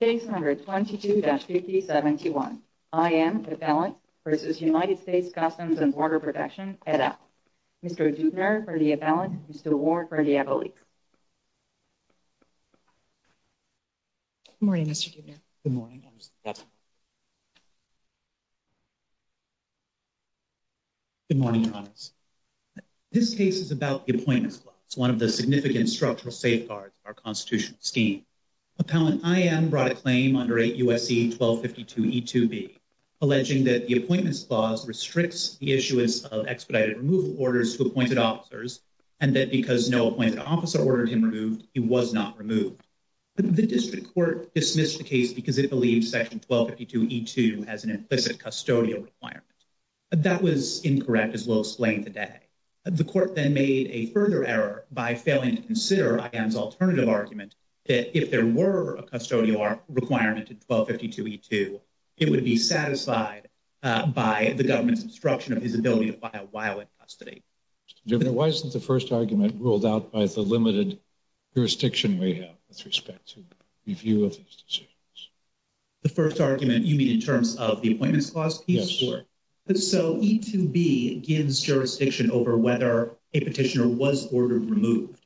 Case number 22-5071. I.M. Appellant v. United States Customs and Border Protection, et al. Mr. Deutner for the appellant. Mr. Ward for the appellate. Good morning, Mr. Deutner. Good morning. Good morning, Congress. This case is about the Appointments Clause, one of the significant structural safeguards of our constitutional scheme. Appellant I.M. brought a claim under 8 U.S.C. 1252e2b alleging that the Appointments Clause restricts the issuance of expedited removal orders to appointed officers and that because no appointed officer ordered him removed, he was not removed. The district court dismissed the case because it believes Section 1252e2 has an implicit custodial requirement. That was incorrect as well as slaying the day. The court then made a further error by failing to consider I.M.'s alternative argument that if there were a custodial requirement in 1252e2, it would be satisfied by the government's obstruction of his ability to buy a while in custody. Mr. Deutner, why isn't the first argument ruled out by the limited jurisdiction we have with respect to review of these decisions? The first argument you mean in terms of the Appointments Clause? Yes. So e2b gives jurisdiction over whether a petitioner was ordered removed.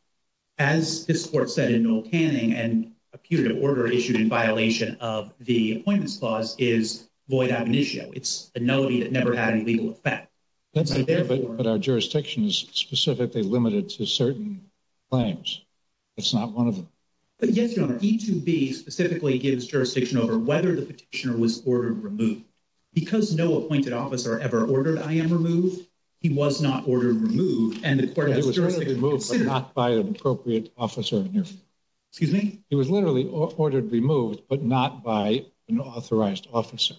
As this court said in Noel Canning and a putative order issued in violation of the Appointments Clause is void ab initio. It's a no that never had any legal effect. But our jurisdiction is specifically limited to certain claims. It's not one of them. But yes, Mr. Deutner was ordered removed. Because no appointed officer ever ordered I.M. removed, he was not ordered removed. And the court was removed, but not by an appropriate officer. Excuse me? He was literally ordered removed, but not by an authorized officer.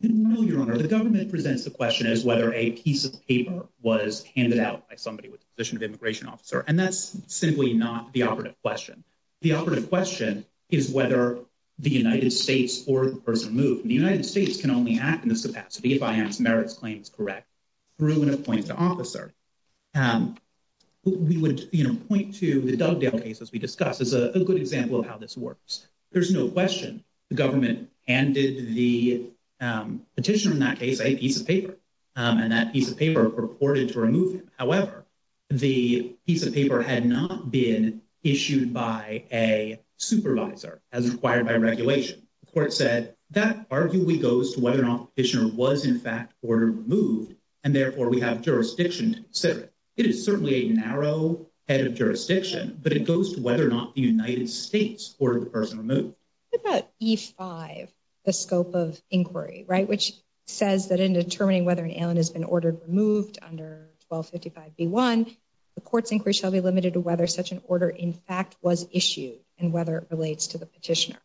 No, Your Honor, the government presents the question as whether a piece of paper was handed out by somebody with the position of immigration officer. And that's simply not the operative question. The operative question is whether the United States or the person moved. The United States can only act in this capacity if I.M.'s merits claim is correct through an appointed officer. We would, you know, point to the Dugdale case as we discussed as a good example of how this works. There's no question the government handed the petitioner in that case a piece of paper. And that piece of paper purported to remove him. However, the piece of paper had not been issued by a supervisor as required by regulation. The court said that arguably goes to whether or not the petitioner was in fact ordered removed. And therefore, we have jurisdiction to consider it. It is certainly a narrow head of jurisdiction, but it goes to whether or not the United States ordered the person removed. What about E5, the scope of inquiry, right, which says that in determining whether an alien has been ordered removed under 1255B1, the court's inquiry shall be limited to whether such an order in fact was issued and whether it relates to the petitioner.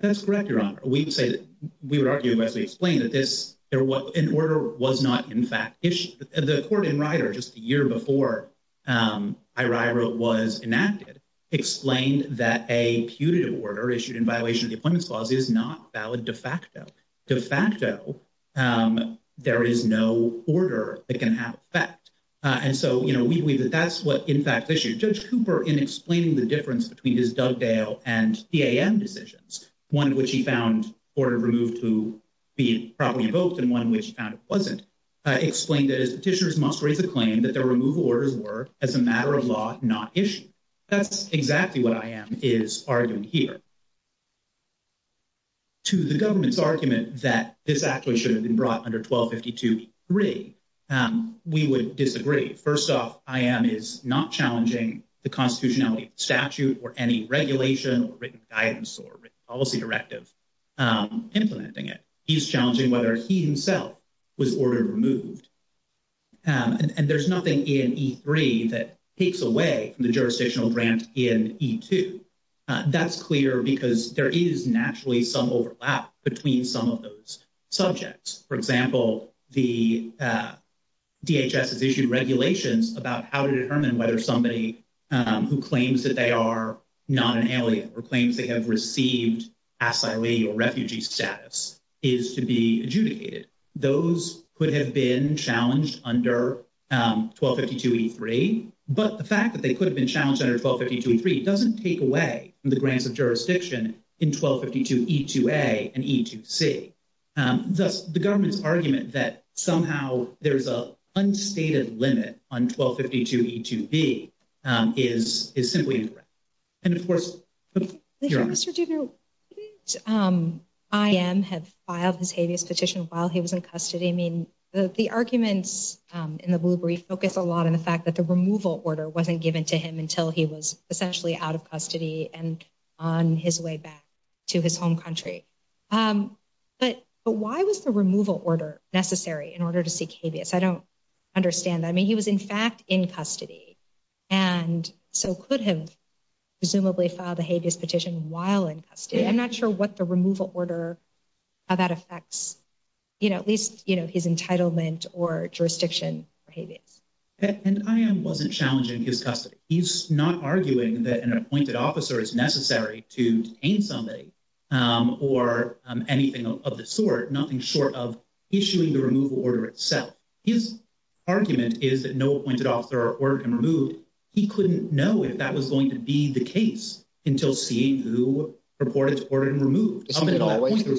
That's correct, Your Honor. We say that we would argue as we explain that this there was an order was not in fact issued. The court in Ryder just a year before I.R.I. was enacted, explained that a putative order issued in violation of the Appointments Clause is not valid de facto. De facto, there is no order that can have effect. And so, you know, we believe that that's what in fact issued. Judge Cooper, in explaining the difference between his Dugdale and PAM decisions, one of which he found ordered removed to be properly invoked and one which he found it wasn't, explained that his petitioners must raise the claim that their removal orders were, as a matter of law, not issued. That's exactly what I.R.I. is arguing here. To the government's argument that this actually should have been brought under 1252E3, we would disagree. First off, I.R.I. is not challenging the constitutionality of the statute or any regulation or written guidance or policy directive implementing it. He's challenging whether he himself was ordered removed. And there's nothing in E3 that takes away from the jurisdictional grant in E2. That's clear because there is naturally some overlap between some of those subjects. For example, the DHS has issued regulations about how to determine whether somebody who claims that they are not an alien or claims they have received asylee or refugee status is to be adjudicated. Those could have been challenged under 1252E3, but the fact that they could have been challenged under 1252E3 doesn't take away from the grants of jurisdiction in 1252E2A and E2C. Thus, the government's argument that somehow there's an unstated limit on 1252E2B is simply incorrect. And of course, your Honor. Mr. Dugganer, wouldn't I.R.I. have filed his habeas petition while he was in custody? I mean, the arguments in the blue brief focus a lot on the fact that the removal order wasn't given to him until he was essentially out of custody and on his way back to his home country. But why was the removal order necessary in order to seek habeas? I don't understand that. I mean, he was, in fact, in custody. And so could have presumably filed a habeas petition while in custody. I'm not sure what the removal order, how that affects, you know, at least, you know, his entitlement or jurisdiction for habeas. And I.R.I. wasn't challenging his custody. He's not arguing that an appointed officer is necessary to detain somebody or anything of the sort, nothing short of issuing the removal order itself. His argument is that no appointed officer were removed. He said there was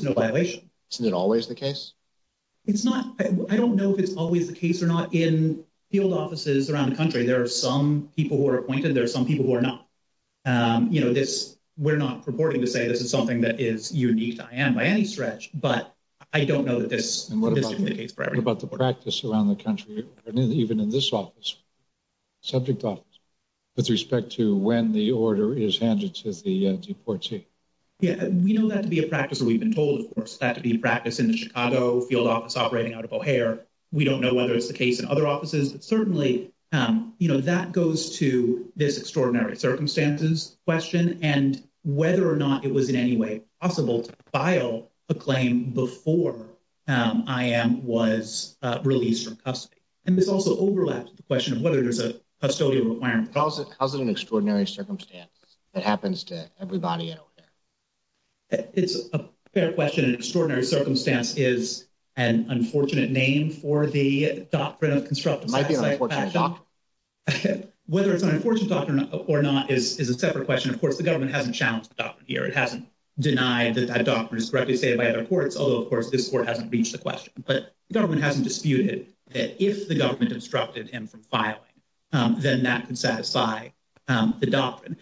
no violation. Isn't it always the case? It's not. I don't know if it's always the case or not in field offices around the country. There are some people who are appointed. There are some people who are not. You know, this we're not purporting to say this is something that is unique to I.R.I. by any stretch, but I don't know that this is the case for everybody. What about the practice around the country, even in this office, subject office, with respect to when the order is handed to the deportee? Yeah, we know that to be a practice. We've been told, of course, that to be a practice in the Chicago field office operating out of O'Hare. We don't know whether it's the case in other offices, but certainly, you know, that goes to this extraordinary circumstances question and whether or not it was in any way possible to file a claim before I.R.I. was released from custody. And this also overlaps the question of whether there's a that happens to everybody in O'Hare. It's a fair question. Extraordinary circumstance is an unfortunate name for the doctrine of constructive. Whether it's an unfortunate doctrine or not is a separate question. Of course, the government hasn't challenged the doctrine here. It hasn't denied that that doctrine is correctly stated by other courts, although, of course, this court hasn't reached the question. But the government hasn't disputed that if the government obstructed him from filing, then that could satisfy the doctrine.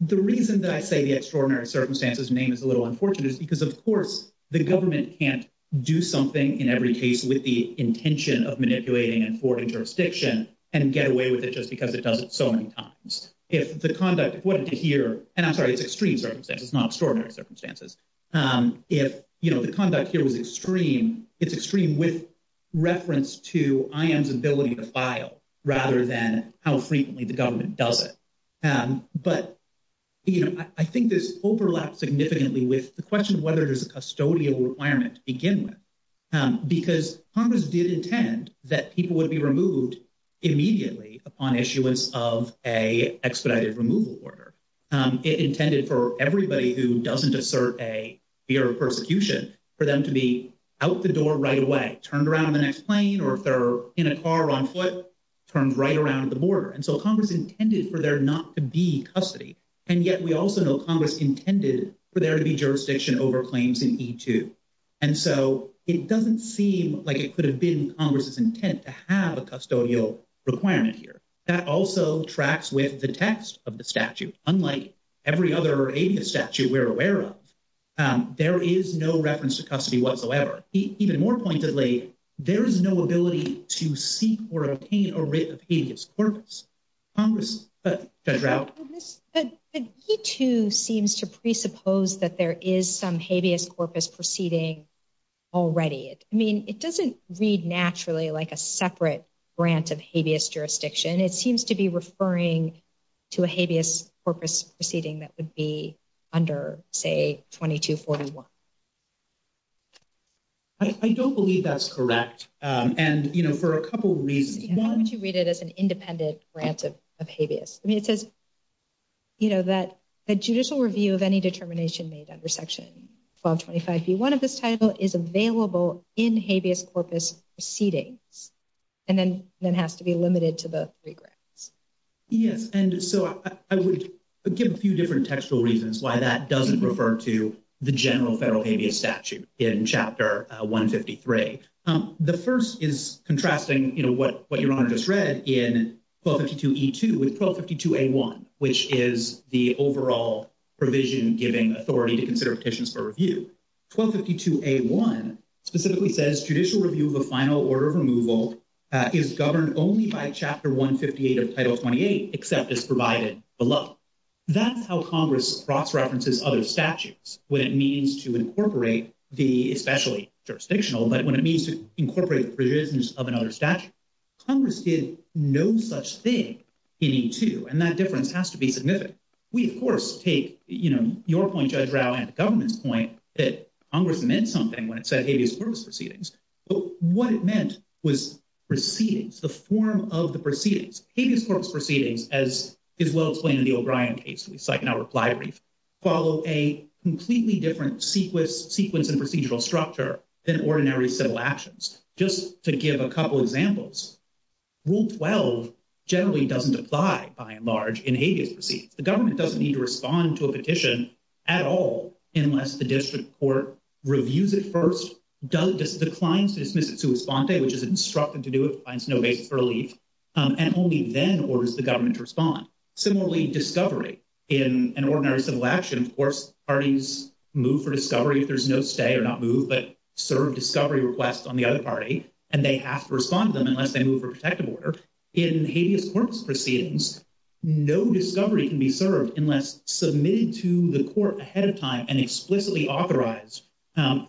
The reason that I say the extraordinary circumstances name is a little unfortunate is because, of course, the government can't do something in every case with the intention of manipulating and thwarting jurisdiction and get away with it just because it does it so many times. If the conduct of what to hear, and I'm sorry, it's extreme circumstances, not extraordinary circumstances. If the conduct here was extreme, it's extreme with reference to I.M.'s ability to file rather than how frequently the government does it. But I think this overlaps significantly with the question of whether there's a custodial requirement to begin with, because Congress did intend that people would be removed immediately upon issuance of a expedited removal order. It intended for everybody who doesn't assert a fear of persecution for them to be out the door right away, turned around the next plane, or if they're in a car on foot, turned right around the border. And so Congress intended for there not to be custody. And yet we also know Congress intended for there to be jurisdiction over claims in E2. And so it doesn't seem like it could have been Congress's intent to have a custodial requirement here. That also tracks with the text of the every other habeas statute we're aware of. There is no reference to custody whatsoever. Even more pointedly, there is no ability to seek or obtain a writ of habeas corpus. Congress? Judge Rauch? E2 seems to presuppose that there is some habeas corpus proceeding already. I mean, it doesn't read naturally like a separate grant of habeas jurisdiction. It seems to be referring to a habeas corpus proceeding that would be under, say, 2241. I don't believe that's correct. And, you know, for a couple reasons. Why would you read it as an independent grant of habeas? I mean, it says, you know, that a judicial review of any determination made under Section 1225b1 of this title is available in habeas corpus proceedings and then has to be limited to the three grants. Yes, and so I would give a few different textual reasons why that doesn't refer to the general federal habeas statute in Chapter 153. The first is contrasting, you know, what Your Honor just read in 1252e2 with 1252a1, which is the overall provision giving authority to consider petitions for review. 1252a1 specifically says judicial review of a final order of removal is governed only by Chapter 158 of Title 28, except as provided below. That's how Congress cross-references other statutes, when it means to incorporate the, especially jurisdictional, but when it means to incorporate provisions of another statute. Congress did no such thing in e2, and that difference has to be significant. We, of course, take, you know, your point, Judge Rao, and the government's point that Congress meant something when it said habeas corpus proceedings. But what it meant was proceedings, the form of the proceedings. Habeas corpus proceedings, as is well explained in the O'Brien case we cite in our reply brief, follow a completely different sequence and procedural structure than ordinary civil actions. Just to give a couple examples, Rule 12 generally doesn't apply, by and large, in habeas proceedings. The government doesn't need to respond to a petition at all unless the district court reviews it first, declines to dismiss it sua sponte, which is instructed to do it, finds no basis for relief, and only then orders the government to respond. Similarly, discovery. In an ordinary civil action, of course, parties move for discovery if there's no stay or not move, but serve discovery requests on the other party, and they have to respond to them unless they move for protective order. In habeas corpus proceedings, no discovery can be served unless submitted to the court ahead of time and explicitly authorized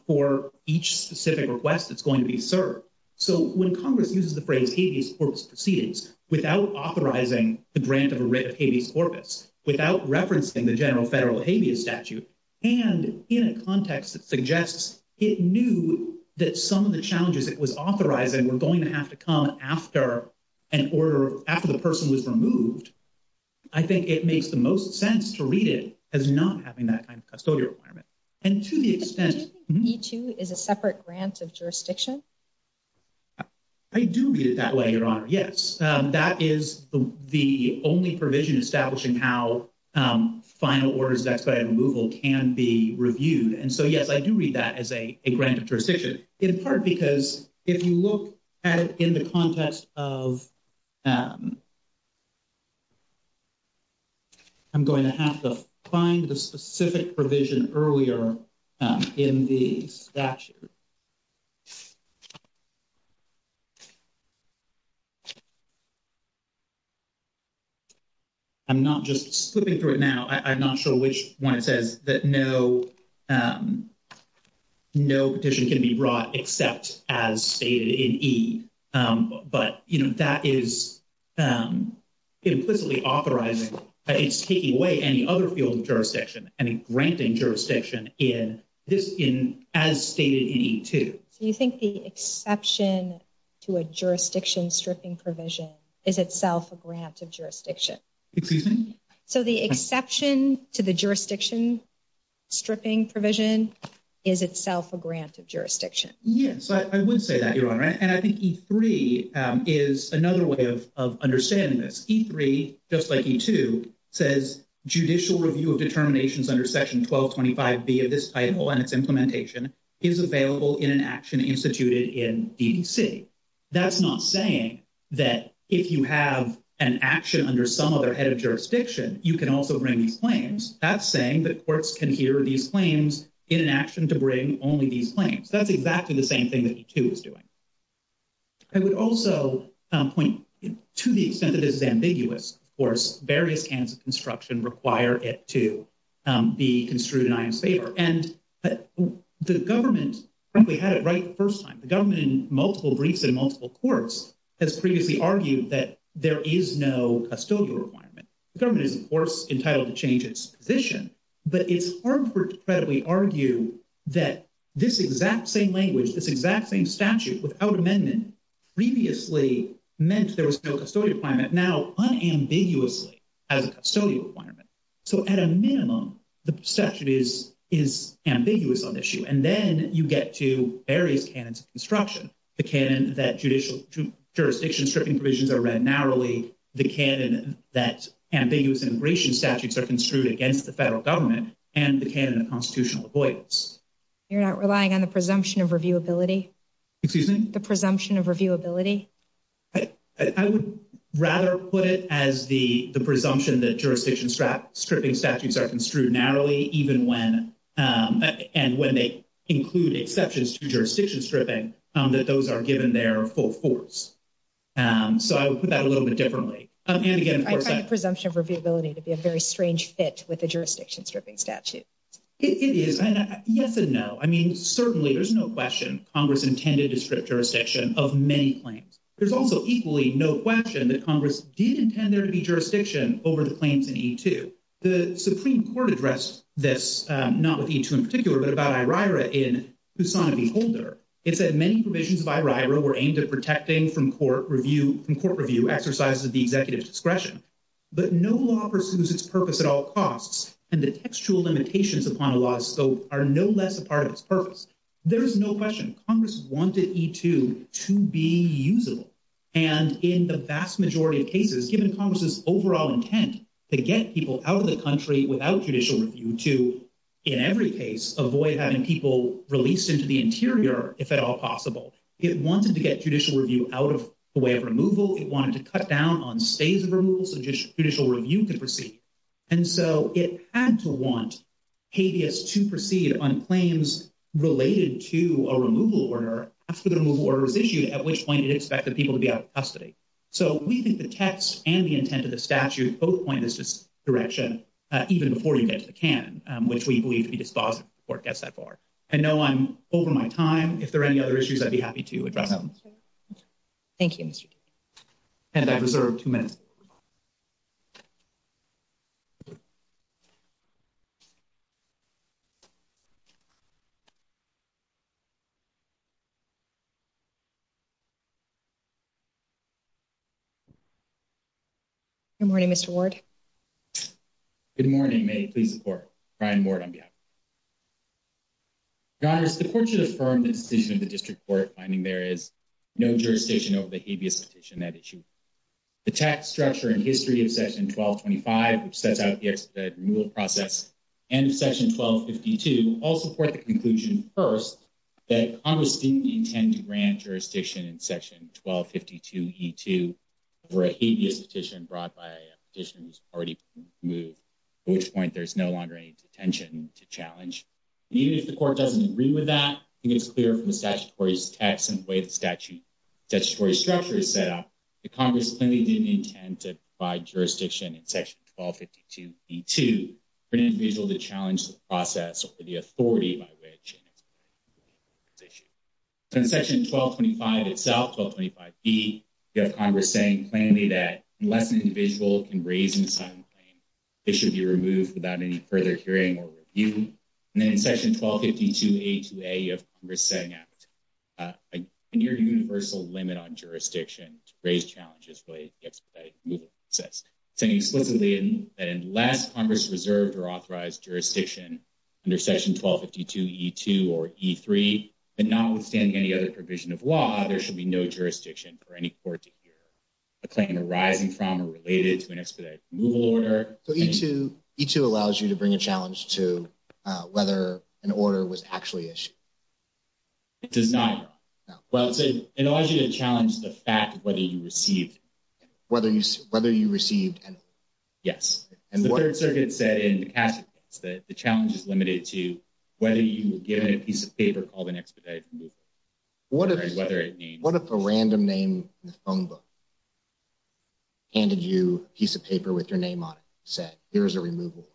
for each specific request that's going to be served. So when Congress uses the phrase habeas corpus proceedings without authorizing the grant of a writ of habeas corpus, without referencing the general federal habeas statute, and in a context that suggests it knew that some of the challenges it was authorizing were going to have to come after an order, after the person was removed, I think it makes the most sense to read it as not having that kind of custodial requirement. And to the extent... Do you think E2 is a separate grant of jurisdiction? I do read it that way, Your Honor, yes. That is the only provision establishing how final orders of expedited removal can be reviewed. And so, yes, I do read that as a grant of um... I'm going to have to find the specific provision earlier in the statute. I'm not just slipping through it now. I'm not sure which one it says that no petition can be brought except as stated in E. But, you know, that is implicitly authorizing. It's taking away any other field of jurisdiction and granting jurisdiction in this in as stated in E2. Do you think the exception to a jurisdiction stripping provision is itself a grant of jurisdiction? Excuse me? So the exception to the jurisdiction stripping provision is itself a grant of jurisdiction? Yes, I would say that, Your Honor. And I think E3 is another way of understanding this. E3, just like E2, says judicial review of determinations under Section 1225B of this title and its implementation is available in an action instituted in DDC. That's not saying that if you have an action under some other head of jurisdiction, you can also bring these claims. That's saying that courts can hear these claims in an action to bring only these claims. That's exactly the same thing that E2 is doing. I would also point to the extent that this is ambiguous. Of course, various hands of construction require it to be construed in IM's favor. And the government, frankly, had it right the first time. The government in multiple briefs in multiple courts has previously argued that there is no custodial requirement. The government is, of course, this exact same statute without amendment previously meant there was no custodial requirement. Now, unambiguously, has a custodial requirement. So at a minimum, the statute is ambiguous on this issue. And then you get to various canons of construction. The canon that jurisdiction stripping provisions are read narrowly, the canon that ambiguous immigration statutes are construed against the federal government, and the canon of constitutional avoidance. You're not relying on the presumption of reviewability. Excuse me? The presumption of reviewability. I would rather put it as the presumption that jurisdiction strap stripping statutes are construed narrowly, even when and when they include exceptions to jurisdiction stripping, that those are given their full force. So I would put that a little bit differently. And again, presumption of reviewability to be a very strange fit with the jurisdiction stripping statute. It is, yes and no. I mean, certainly there's no question Congress intended to strip jurisdiction of many claims. There's also equally no question that Congress did intend there to be jurisdiction over the claims in E2. The Supreme Court addressed this, not with E2 in particular, but about IRIRA in Poussaint v. Holder. It said many provisions of IRIRA were aimed at protecting from court review, from court review exercises of the executive's discretion. But no law pursues its purpose at all costs. And the textual limitations upon a law's scope are no less a part of its purpose. There is no question Congress wanted E2 to be usable. And in the vast majority of cases, given Congress's overall intent to get people out of the country without judicial review to, in every case, avoid having people released into the interior, if at all possible. It wanted to get judicial review out of the way of removal. It wanted to cut down on stays of removal so judicial review could proceed. And so it had to want habeas to proceed on claims related to a removal order after the removal order was issued, at which point it expected people to be out of custody. So we think the text and the intent of the statute both point in this direction, even before you get to the canon, which we believe to be dispositive of the court gets that far. I know I'm over my time. If there are any other issues, I'd be happy to address them. Thank you, Mr. And I reserve two minutes. Good morning, Mr. Ward. Good morning. May I please support Brian Ward on behalf. Congress, the court should affirm the decision of the district court finding there is no jurisdiction over the habeas petition that issue. The tax structure and history of section 1225, which sets out the removal process, and section 1252, all support the conclusion first that Congress didn't intend to grant jurisdiction in section 1252E2 for a habeas petition brought by a petitioner who's already been removed, at which point there's no longer any detention to challenge. And even if the court doesn't agree with that, I think it's clear from the statutory text and the way the statutory structure is set up that Congress clearly didn't intend to provide jurisdiction in section 1252E2 for an individual to challenge the process or the authority by which. So in section 1225 itself, 1225B, you have Congress saying plainly that unless an individual can raise and sign a claim, they should be removed without any further hearing or review. And then in section 1252A2A, you have Congress setting out a near universal limit on jurisdiction to raise challenges related to the expedited removal process, saying explicitly that unless Congress reserved or authorized jurisdiction under section 1252E2 or E3, and notwithstanding any other provision of law, there should be no jurisdiction for any court to hear a claim arising from or related to an expedited removal order. So E2 allows you to bring a challenge to whether an order was actually issued? It does not. No. Well, it allows you to challenge the fact of whether you received an order. Whether you received an order. Yes. And the Third Circuit said in the Cassidy case that the challenge is limited to whether you were given a piece of paper called an expedited removal. What if a random name in the phone book handed you a piece of paper with your name on it, said, here's a removal?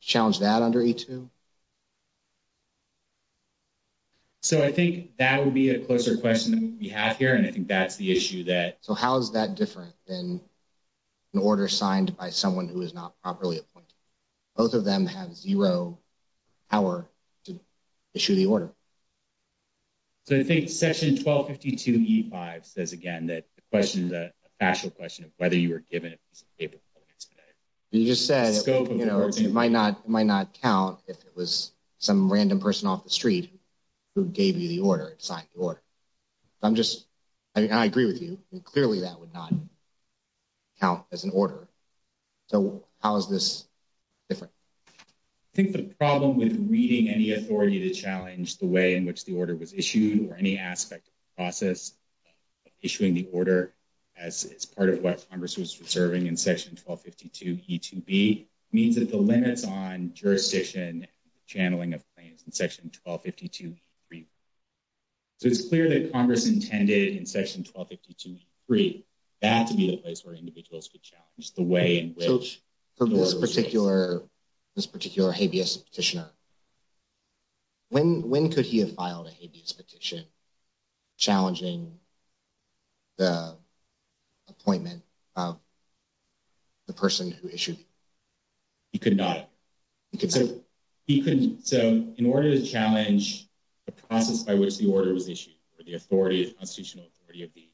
Challenge that under E2? So I think that would be a closer question that we have here, and I think that's the issue that. So how is that different than an order signed by someone who is not properly appointed? Both of them have zero power to issue the order. So I think section 1252E5 says again that the question is a factual question of whether you were given a piece of paper called an expedited. You just said, you know, it might not count if it was some random person off the street who gave you the order, signed the order. I'm just, I mean, I agree with you. Clearly, that would not count as an order. So how is this different? I think the problem with reading any authority to challenge the way in which the order was issued or any aspect of the process of issuing the order as part of what Congress was reserving in section 1252E2B means that the limits on jurisdiction and channeling of claims in section 1252E3. So it's clear that Congress intended in section 1252E3 that to be the place where the way in which the order was issued. So for this particular habeas petitioner, when could he have filed a habeas petition challenging the appointment of the person who issued it? He could not. So in order to challenge the process by which the order was issued or the authority, constitutional authority of the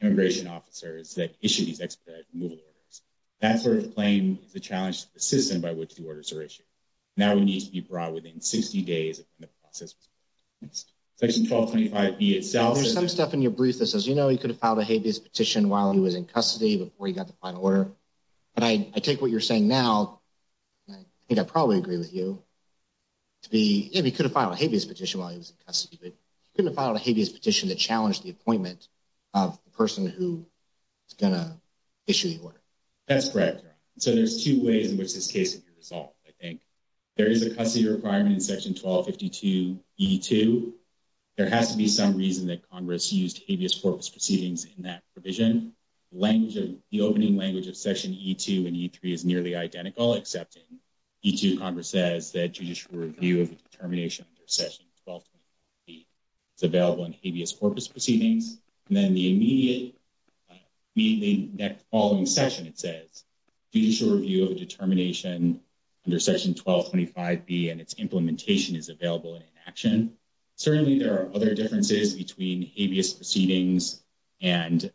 immigration officers that issued these expedited removal orders, that sort of claim is a challenge to the system by which the orders are issued. Now it needs to be brought within 60 days of the process. Section 1225E itself. There's some stuff in your brief that says, you know, he could have filed a habeas petition while he was in custody before he got the final order. But I take what you're saying now. And I think I probably agree with you to be, if he could have filed a habeas petition while he was in custody before he got the appointment of the person who is going to issue the order. That's correct. So there's two ways in which this case would be resolved, I think. There is a custody requirement in section 1252E2. There has to be some reason that Congress used habeas corpus proceedings in that provision. Language of the opening language of section E2 and E3 is nearly identical, except in E2, Congress says that judicial review of the determination under section 1225E is available in habeas corpus proceedings. And then the immediate, immediately following session, it says judicial review of determination under section 1225B and its implementation is available in action. Certainly there are other differences between habeas proceedings and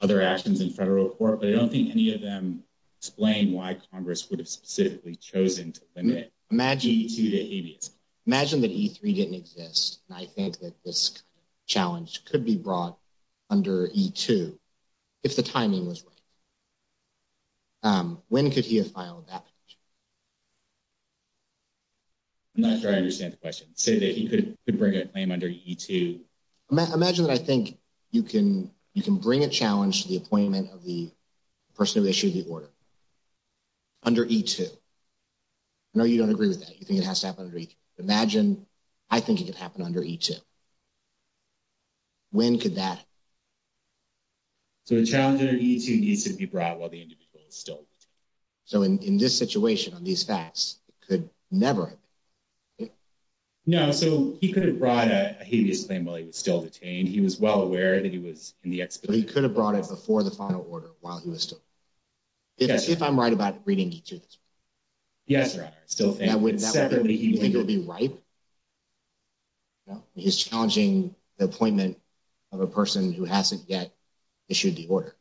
other actions in federal court, but I don't think any of them explain why Congress would have specifically chosen to limit E2 to habeas. Imagine that E3 didn't exist, and I think that this challenge could be brought under E2 if the timing was right. When could he have filed that petition? I'm not sure I understand the question. Say that he could bring a claim under E2. Imagine that I think you can bring a challenge to the appointment of the person who issued the order under E2. No, you don't agree with that. You think it has to happen under E3. Imagine I think it could happen under E2. When could that happen? So a challenge under E2 needs to be brought while the individual is still detained. So in this situation, on these facts, it could never happen. No, so he could have brought a habeas claim while he was still detained. He was well aware that he was in the expedition. But he could have brought it before the final order while he was still... If I'm right about reading E2 this week? Yes, your honor. So you think it would be right? No, he's challenging the appointment of a person who hasn't yet issued the order.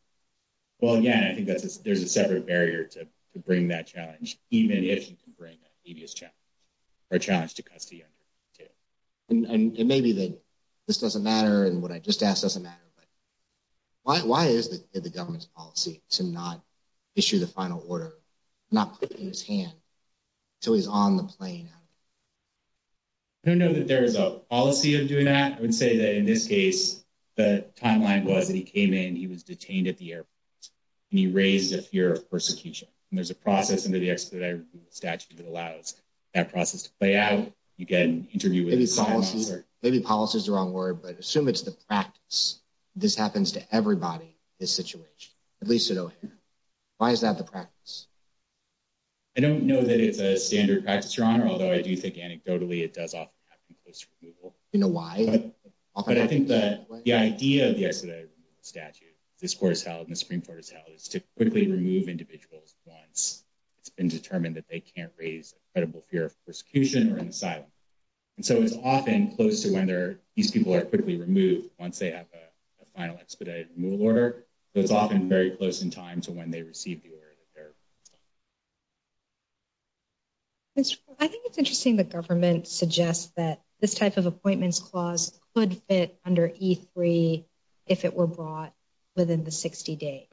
Well, yeah, I think there's a separate barrier to bring that challenge, even if you can bring a habeas challenge or a challenge to custody under E2. And it may be that this doesn't matter and what I just asked doesn't matter. But why is it the government's policy to not issue the final order, not put it in his hand until he's on the plane? I don't know that there is a policy of doing that. I would say that in this case, the timeline was that he came in, he was detained at the airport, and he raised a fear of persecution. And there's a process under the expedited statute that allows that process to play out. You get an assume it's the practice. This happens to everybody in this situation, at least at O'Hare. Why is that the practice? I don't know that it's a standard practice, your honor. Although I do think anecdotally, it does often happen close to removal. You know why? But I think that the idea of the expedited statute, if this court is held and the Supreme Court is held, is to quickly remove individuals once it's been determined that they can't raise a credible fear of persecution or asylum. So it's often close to when these people are quickly removed once they have a final expedited removal order. So it's often very close in time to when they receive the order. I think it's interesting the government suggests that this type of appointments clause could fit under E3 if it were brought within the 60 days.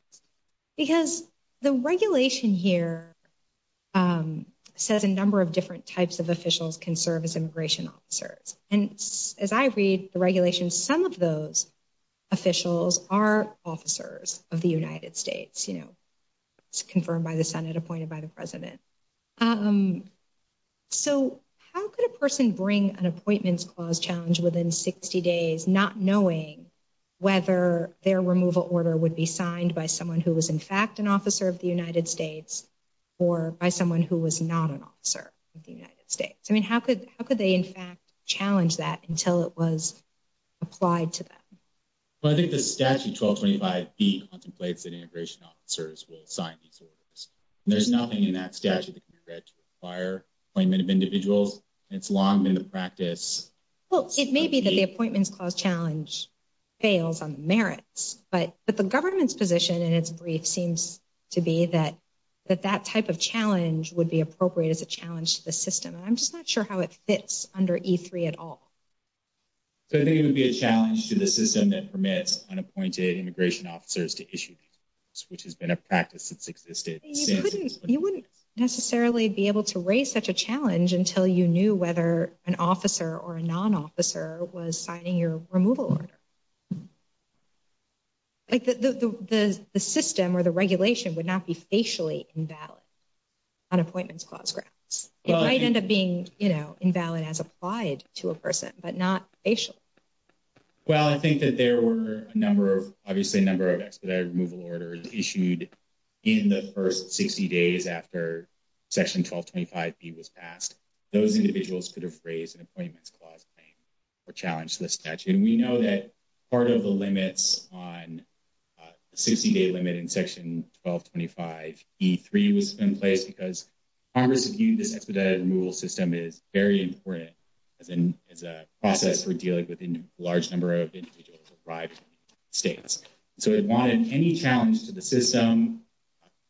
Because the regulation here says a number of different types of officials can serve as immigration officers. And as I read the regulation, some of those officials are officers of the United States, you know. It's confirmed by the Senate, appointed by the President. So how could a person bring an appointments clause challenge within 60 days, not knowing whether their removal order would be signed by someone who was in fact an officer of the United States or by someone who was not an officer of the United States? I mean, how could they in fact challenge that until it was applied to them? Well, I think the statute 1225B contemplates that immigration officers will sign these orders. There's nothing in that statute that can be read to require appointment of individuals. It's long been the practice. Well, it may be that the appointments clause challenge fails on the merits. But the government's position in its brief seems to be that that type of challenge would be appropriate as a challenge to the system. I'm just not sure how it fits under E3 at all. So I think it would be a challenge to the system that permits unappointed immigration officers to issue these orders, which has been a practice that's existed. You wouldn't necessarily be able to raise such a challenge until you knew whether an officer or a non-officer was signing your removal order. Like the system or the regulation would not be facially invalid on appointments clause grounds. It might end up being, you know, invalid as applied to a person, but not facial. Well, I think that there were a number of, obviously a number of expedited removal orders issued in the first 60 days after Section 1225B was passed. Those individuals could have raised an appointments clause claim or challenged the statute. And we know that part of the limits on the 60-day limit in Section 1225E3 was in place because Congress viewed this expedited removal system as very important as a process for dealing with a large number of individuals who arrived from the United States. So it wanted any challenge to the system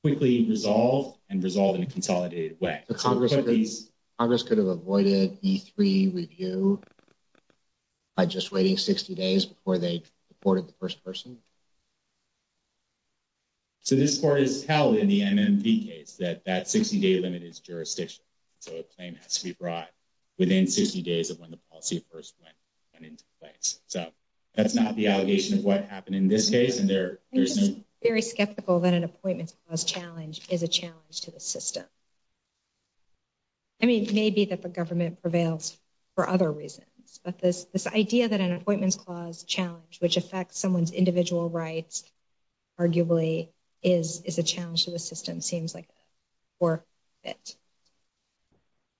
quickly resolved and resolved in a consolidated way. Congress could have avoided E3 review by just waiting 60 days before they reported the first person? So this part is held in the MMP case that that 60-day limit is jurisdictional. So a claim has to be brought within 60 days of when the policy first went into place. So that's not the allegation of what happened in this case. I'm just very skeptical that an appointments clause challenge is a challenge to the system. I mean, it may be that the government prevails for other reasons, but this idea that an appointments clause challenge, which affects someone's individual rights, arguably is a challenge to the system seems like a poor fit.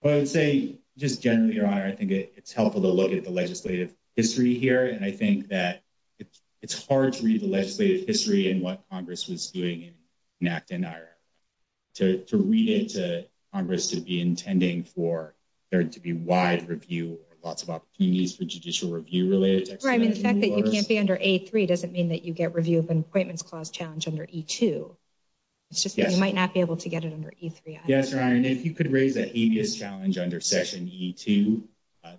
Well, I would say just generally, Your Honor, I think it's helpful to look at the legislative history here. And I think that it's hard to read the legislative history and what Congress was doing in Act N to read it to Congress to be intending for there to be wide review or lots of opportunities for judicial review related to expedited removal. I mean, the fact that you can't be under A3 doesn't mean that you get review of an appointments clause challenge under E2. It's just that you might not be able to get it under E3. Yes, Your Honor. And if you could raise that habeas challenge under Session E2,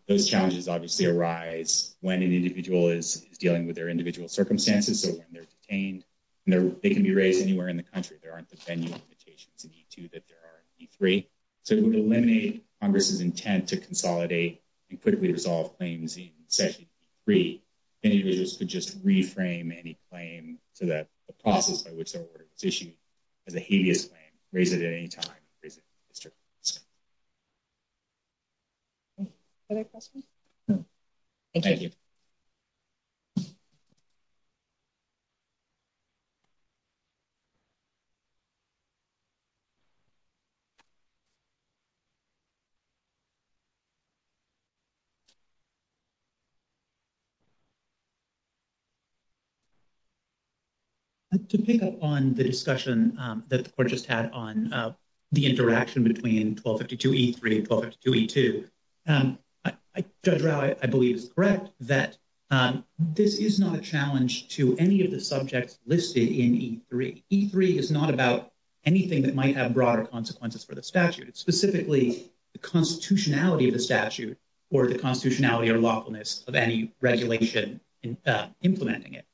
those challenges obviously arise when an individual is dealing with their individual circumstances. So when they're detained, they can be raised anywhere in the country. There aren't the venue limitations in E2 that there are in E3. So it would eliminate Congress's intent to consolidate and quickly resolve claims in Session E3. Individuals could just reframe any claim so the process by which their order is issued as a habeas claim, raise it at any time. Other questions? No. Thank you. To pick up on the discussion that the Court just had on the interaction between 1252 E3 and 1252 E2, Judge Rao, I believe, is correct that this is not a challenge to any of the subjects listed in E3. E3 is not about anything that might have broader consequences for the statute. It's specifically the constitutionality of the statute or the constitutionality or lawfulness of any regulation implementing it.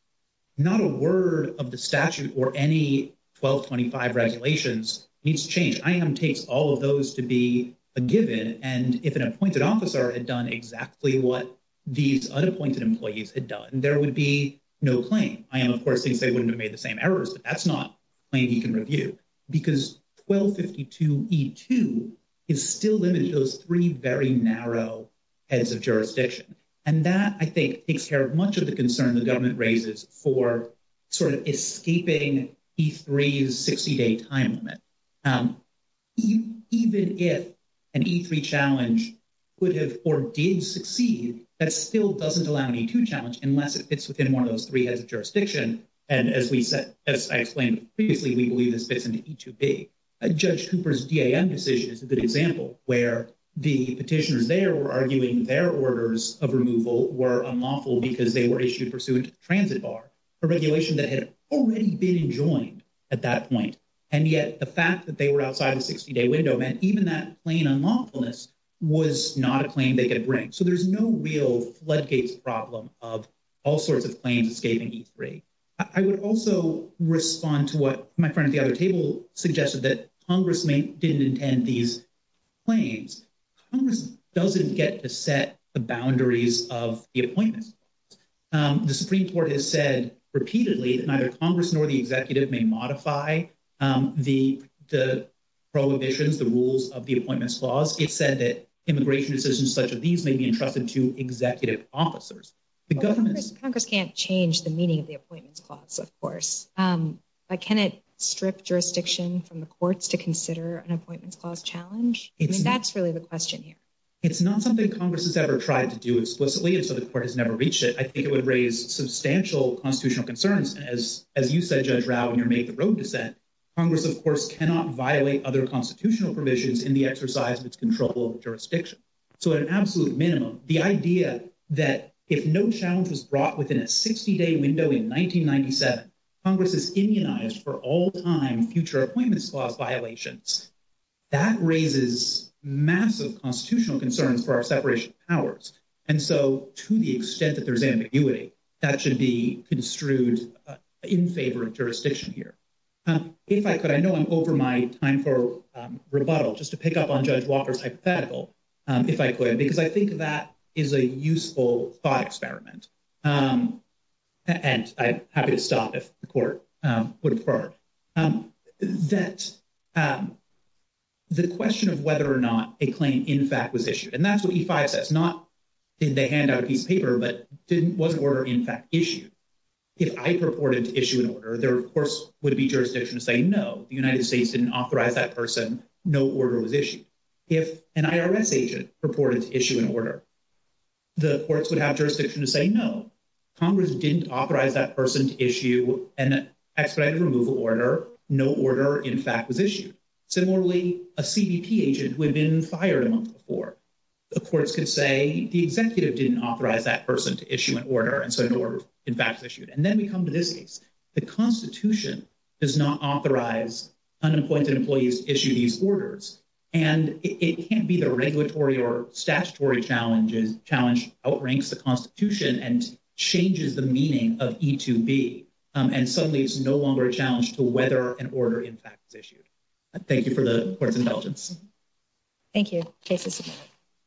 Not a word of the statute or any 1225 regulations needs to change. IAM takes all of those to be a given. And if an appointed officer had done exactly what these unappointed employees had done, there would be no claim. IAM, of course, thinks they wouldn't have made the same errors, but that's not a claim he can review because 1252 E2 is still limited to those three very narrow heads of jurisdiction. And that, I think, takes care of much of the concern the government raises for sort of escaping E3's 60-day time limit. Even if an E3 challenge could have or did succeed, that still doesn't allow an E2 challenge unless it fits within one of those three heads of jurisdiction. And as we said, as I explained previously, we believe this is a good example where the petitioners there were arguing their orders of removal were unlawful because they were issued pursuant to the transit bar, a regulation that had already been enjoined at that point. And yet the fact that they were outside the 60-day window meant even that plain unlawfulness was not a claim they could bring. So there's no real floodgates problem of all sorts of claims escaping E3. I would also respond to what my friend at the other table suggested that Congress may didn't intend these claims. Congress doesn't get to set the boundaries of the appointments. The Supreme Court has said repeatedly that neither Congress nor the executive may modify the prohibitions, the rules of the Appointments Clause. It said that immigration decisions such as these may be entrusted to executive officers. Congress can't change the meaning of the Appointments Clause, of course. But can it strip jurisdiction from the right to consider an Appointments Clause challenge? That's really the question here. It's not something Congress has ever tried to do explicitly, and so the court has never reached it. I think it would raise substantial constitutional concerns. As you said, Judge Rao, in your Make the Road dissent, Congress, of course, cannot violate other constitutional provisions in the exercise of its control over jurisdiction. So at an absolute minimum, the idea that if no challenge was brought within a 60-day window in 1997, Congress is immunized for all time future Appointments Clause violations, that raises massive constitutional concerns for our separation of powers. And so to the extent that there's ambiguity, that should be construed in favor of jurisdiction here. If I could, I know I'm over my time for rebuttal, just to pick up on Judge Walker's hypothetical, if I could, because I think that is a useful thought experiment. And I'm happy to stop if the court would prefer it. That the question of whether or not a claim in fact was issued, and that's what E-5 says, not did they hand out a piece of paper, but was an order in fact issued? If I purported to issue an order, there, of course, would be jurisdiction to say, no, the United States didn't authorize that person, no order was issued. If an Congress didn't authorize that person to issue an expedited removal order, no order in fact was issued. Similarly, a CBP agent who had been fired a month before, the courts could say the executive didn't authorize that person to issue an order, and so an order in fact was issued. And then we come to this case. The Constitution does not authorize unappointed employees to issue these orders. And it can't be the regulatory or statutory challenge outranks the Constitution and changes the meaning of E-2B, and suddenly it's no longer a challenge to whether an order in fact was issued. Thank you for the Court's intelligence. Thank you. Case is submitted.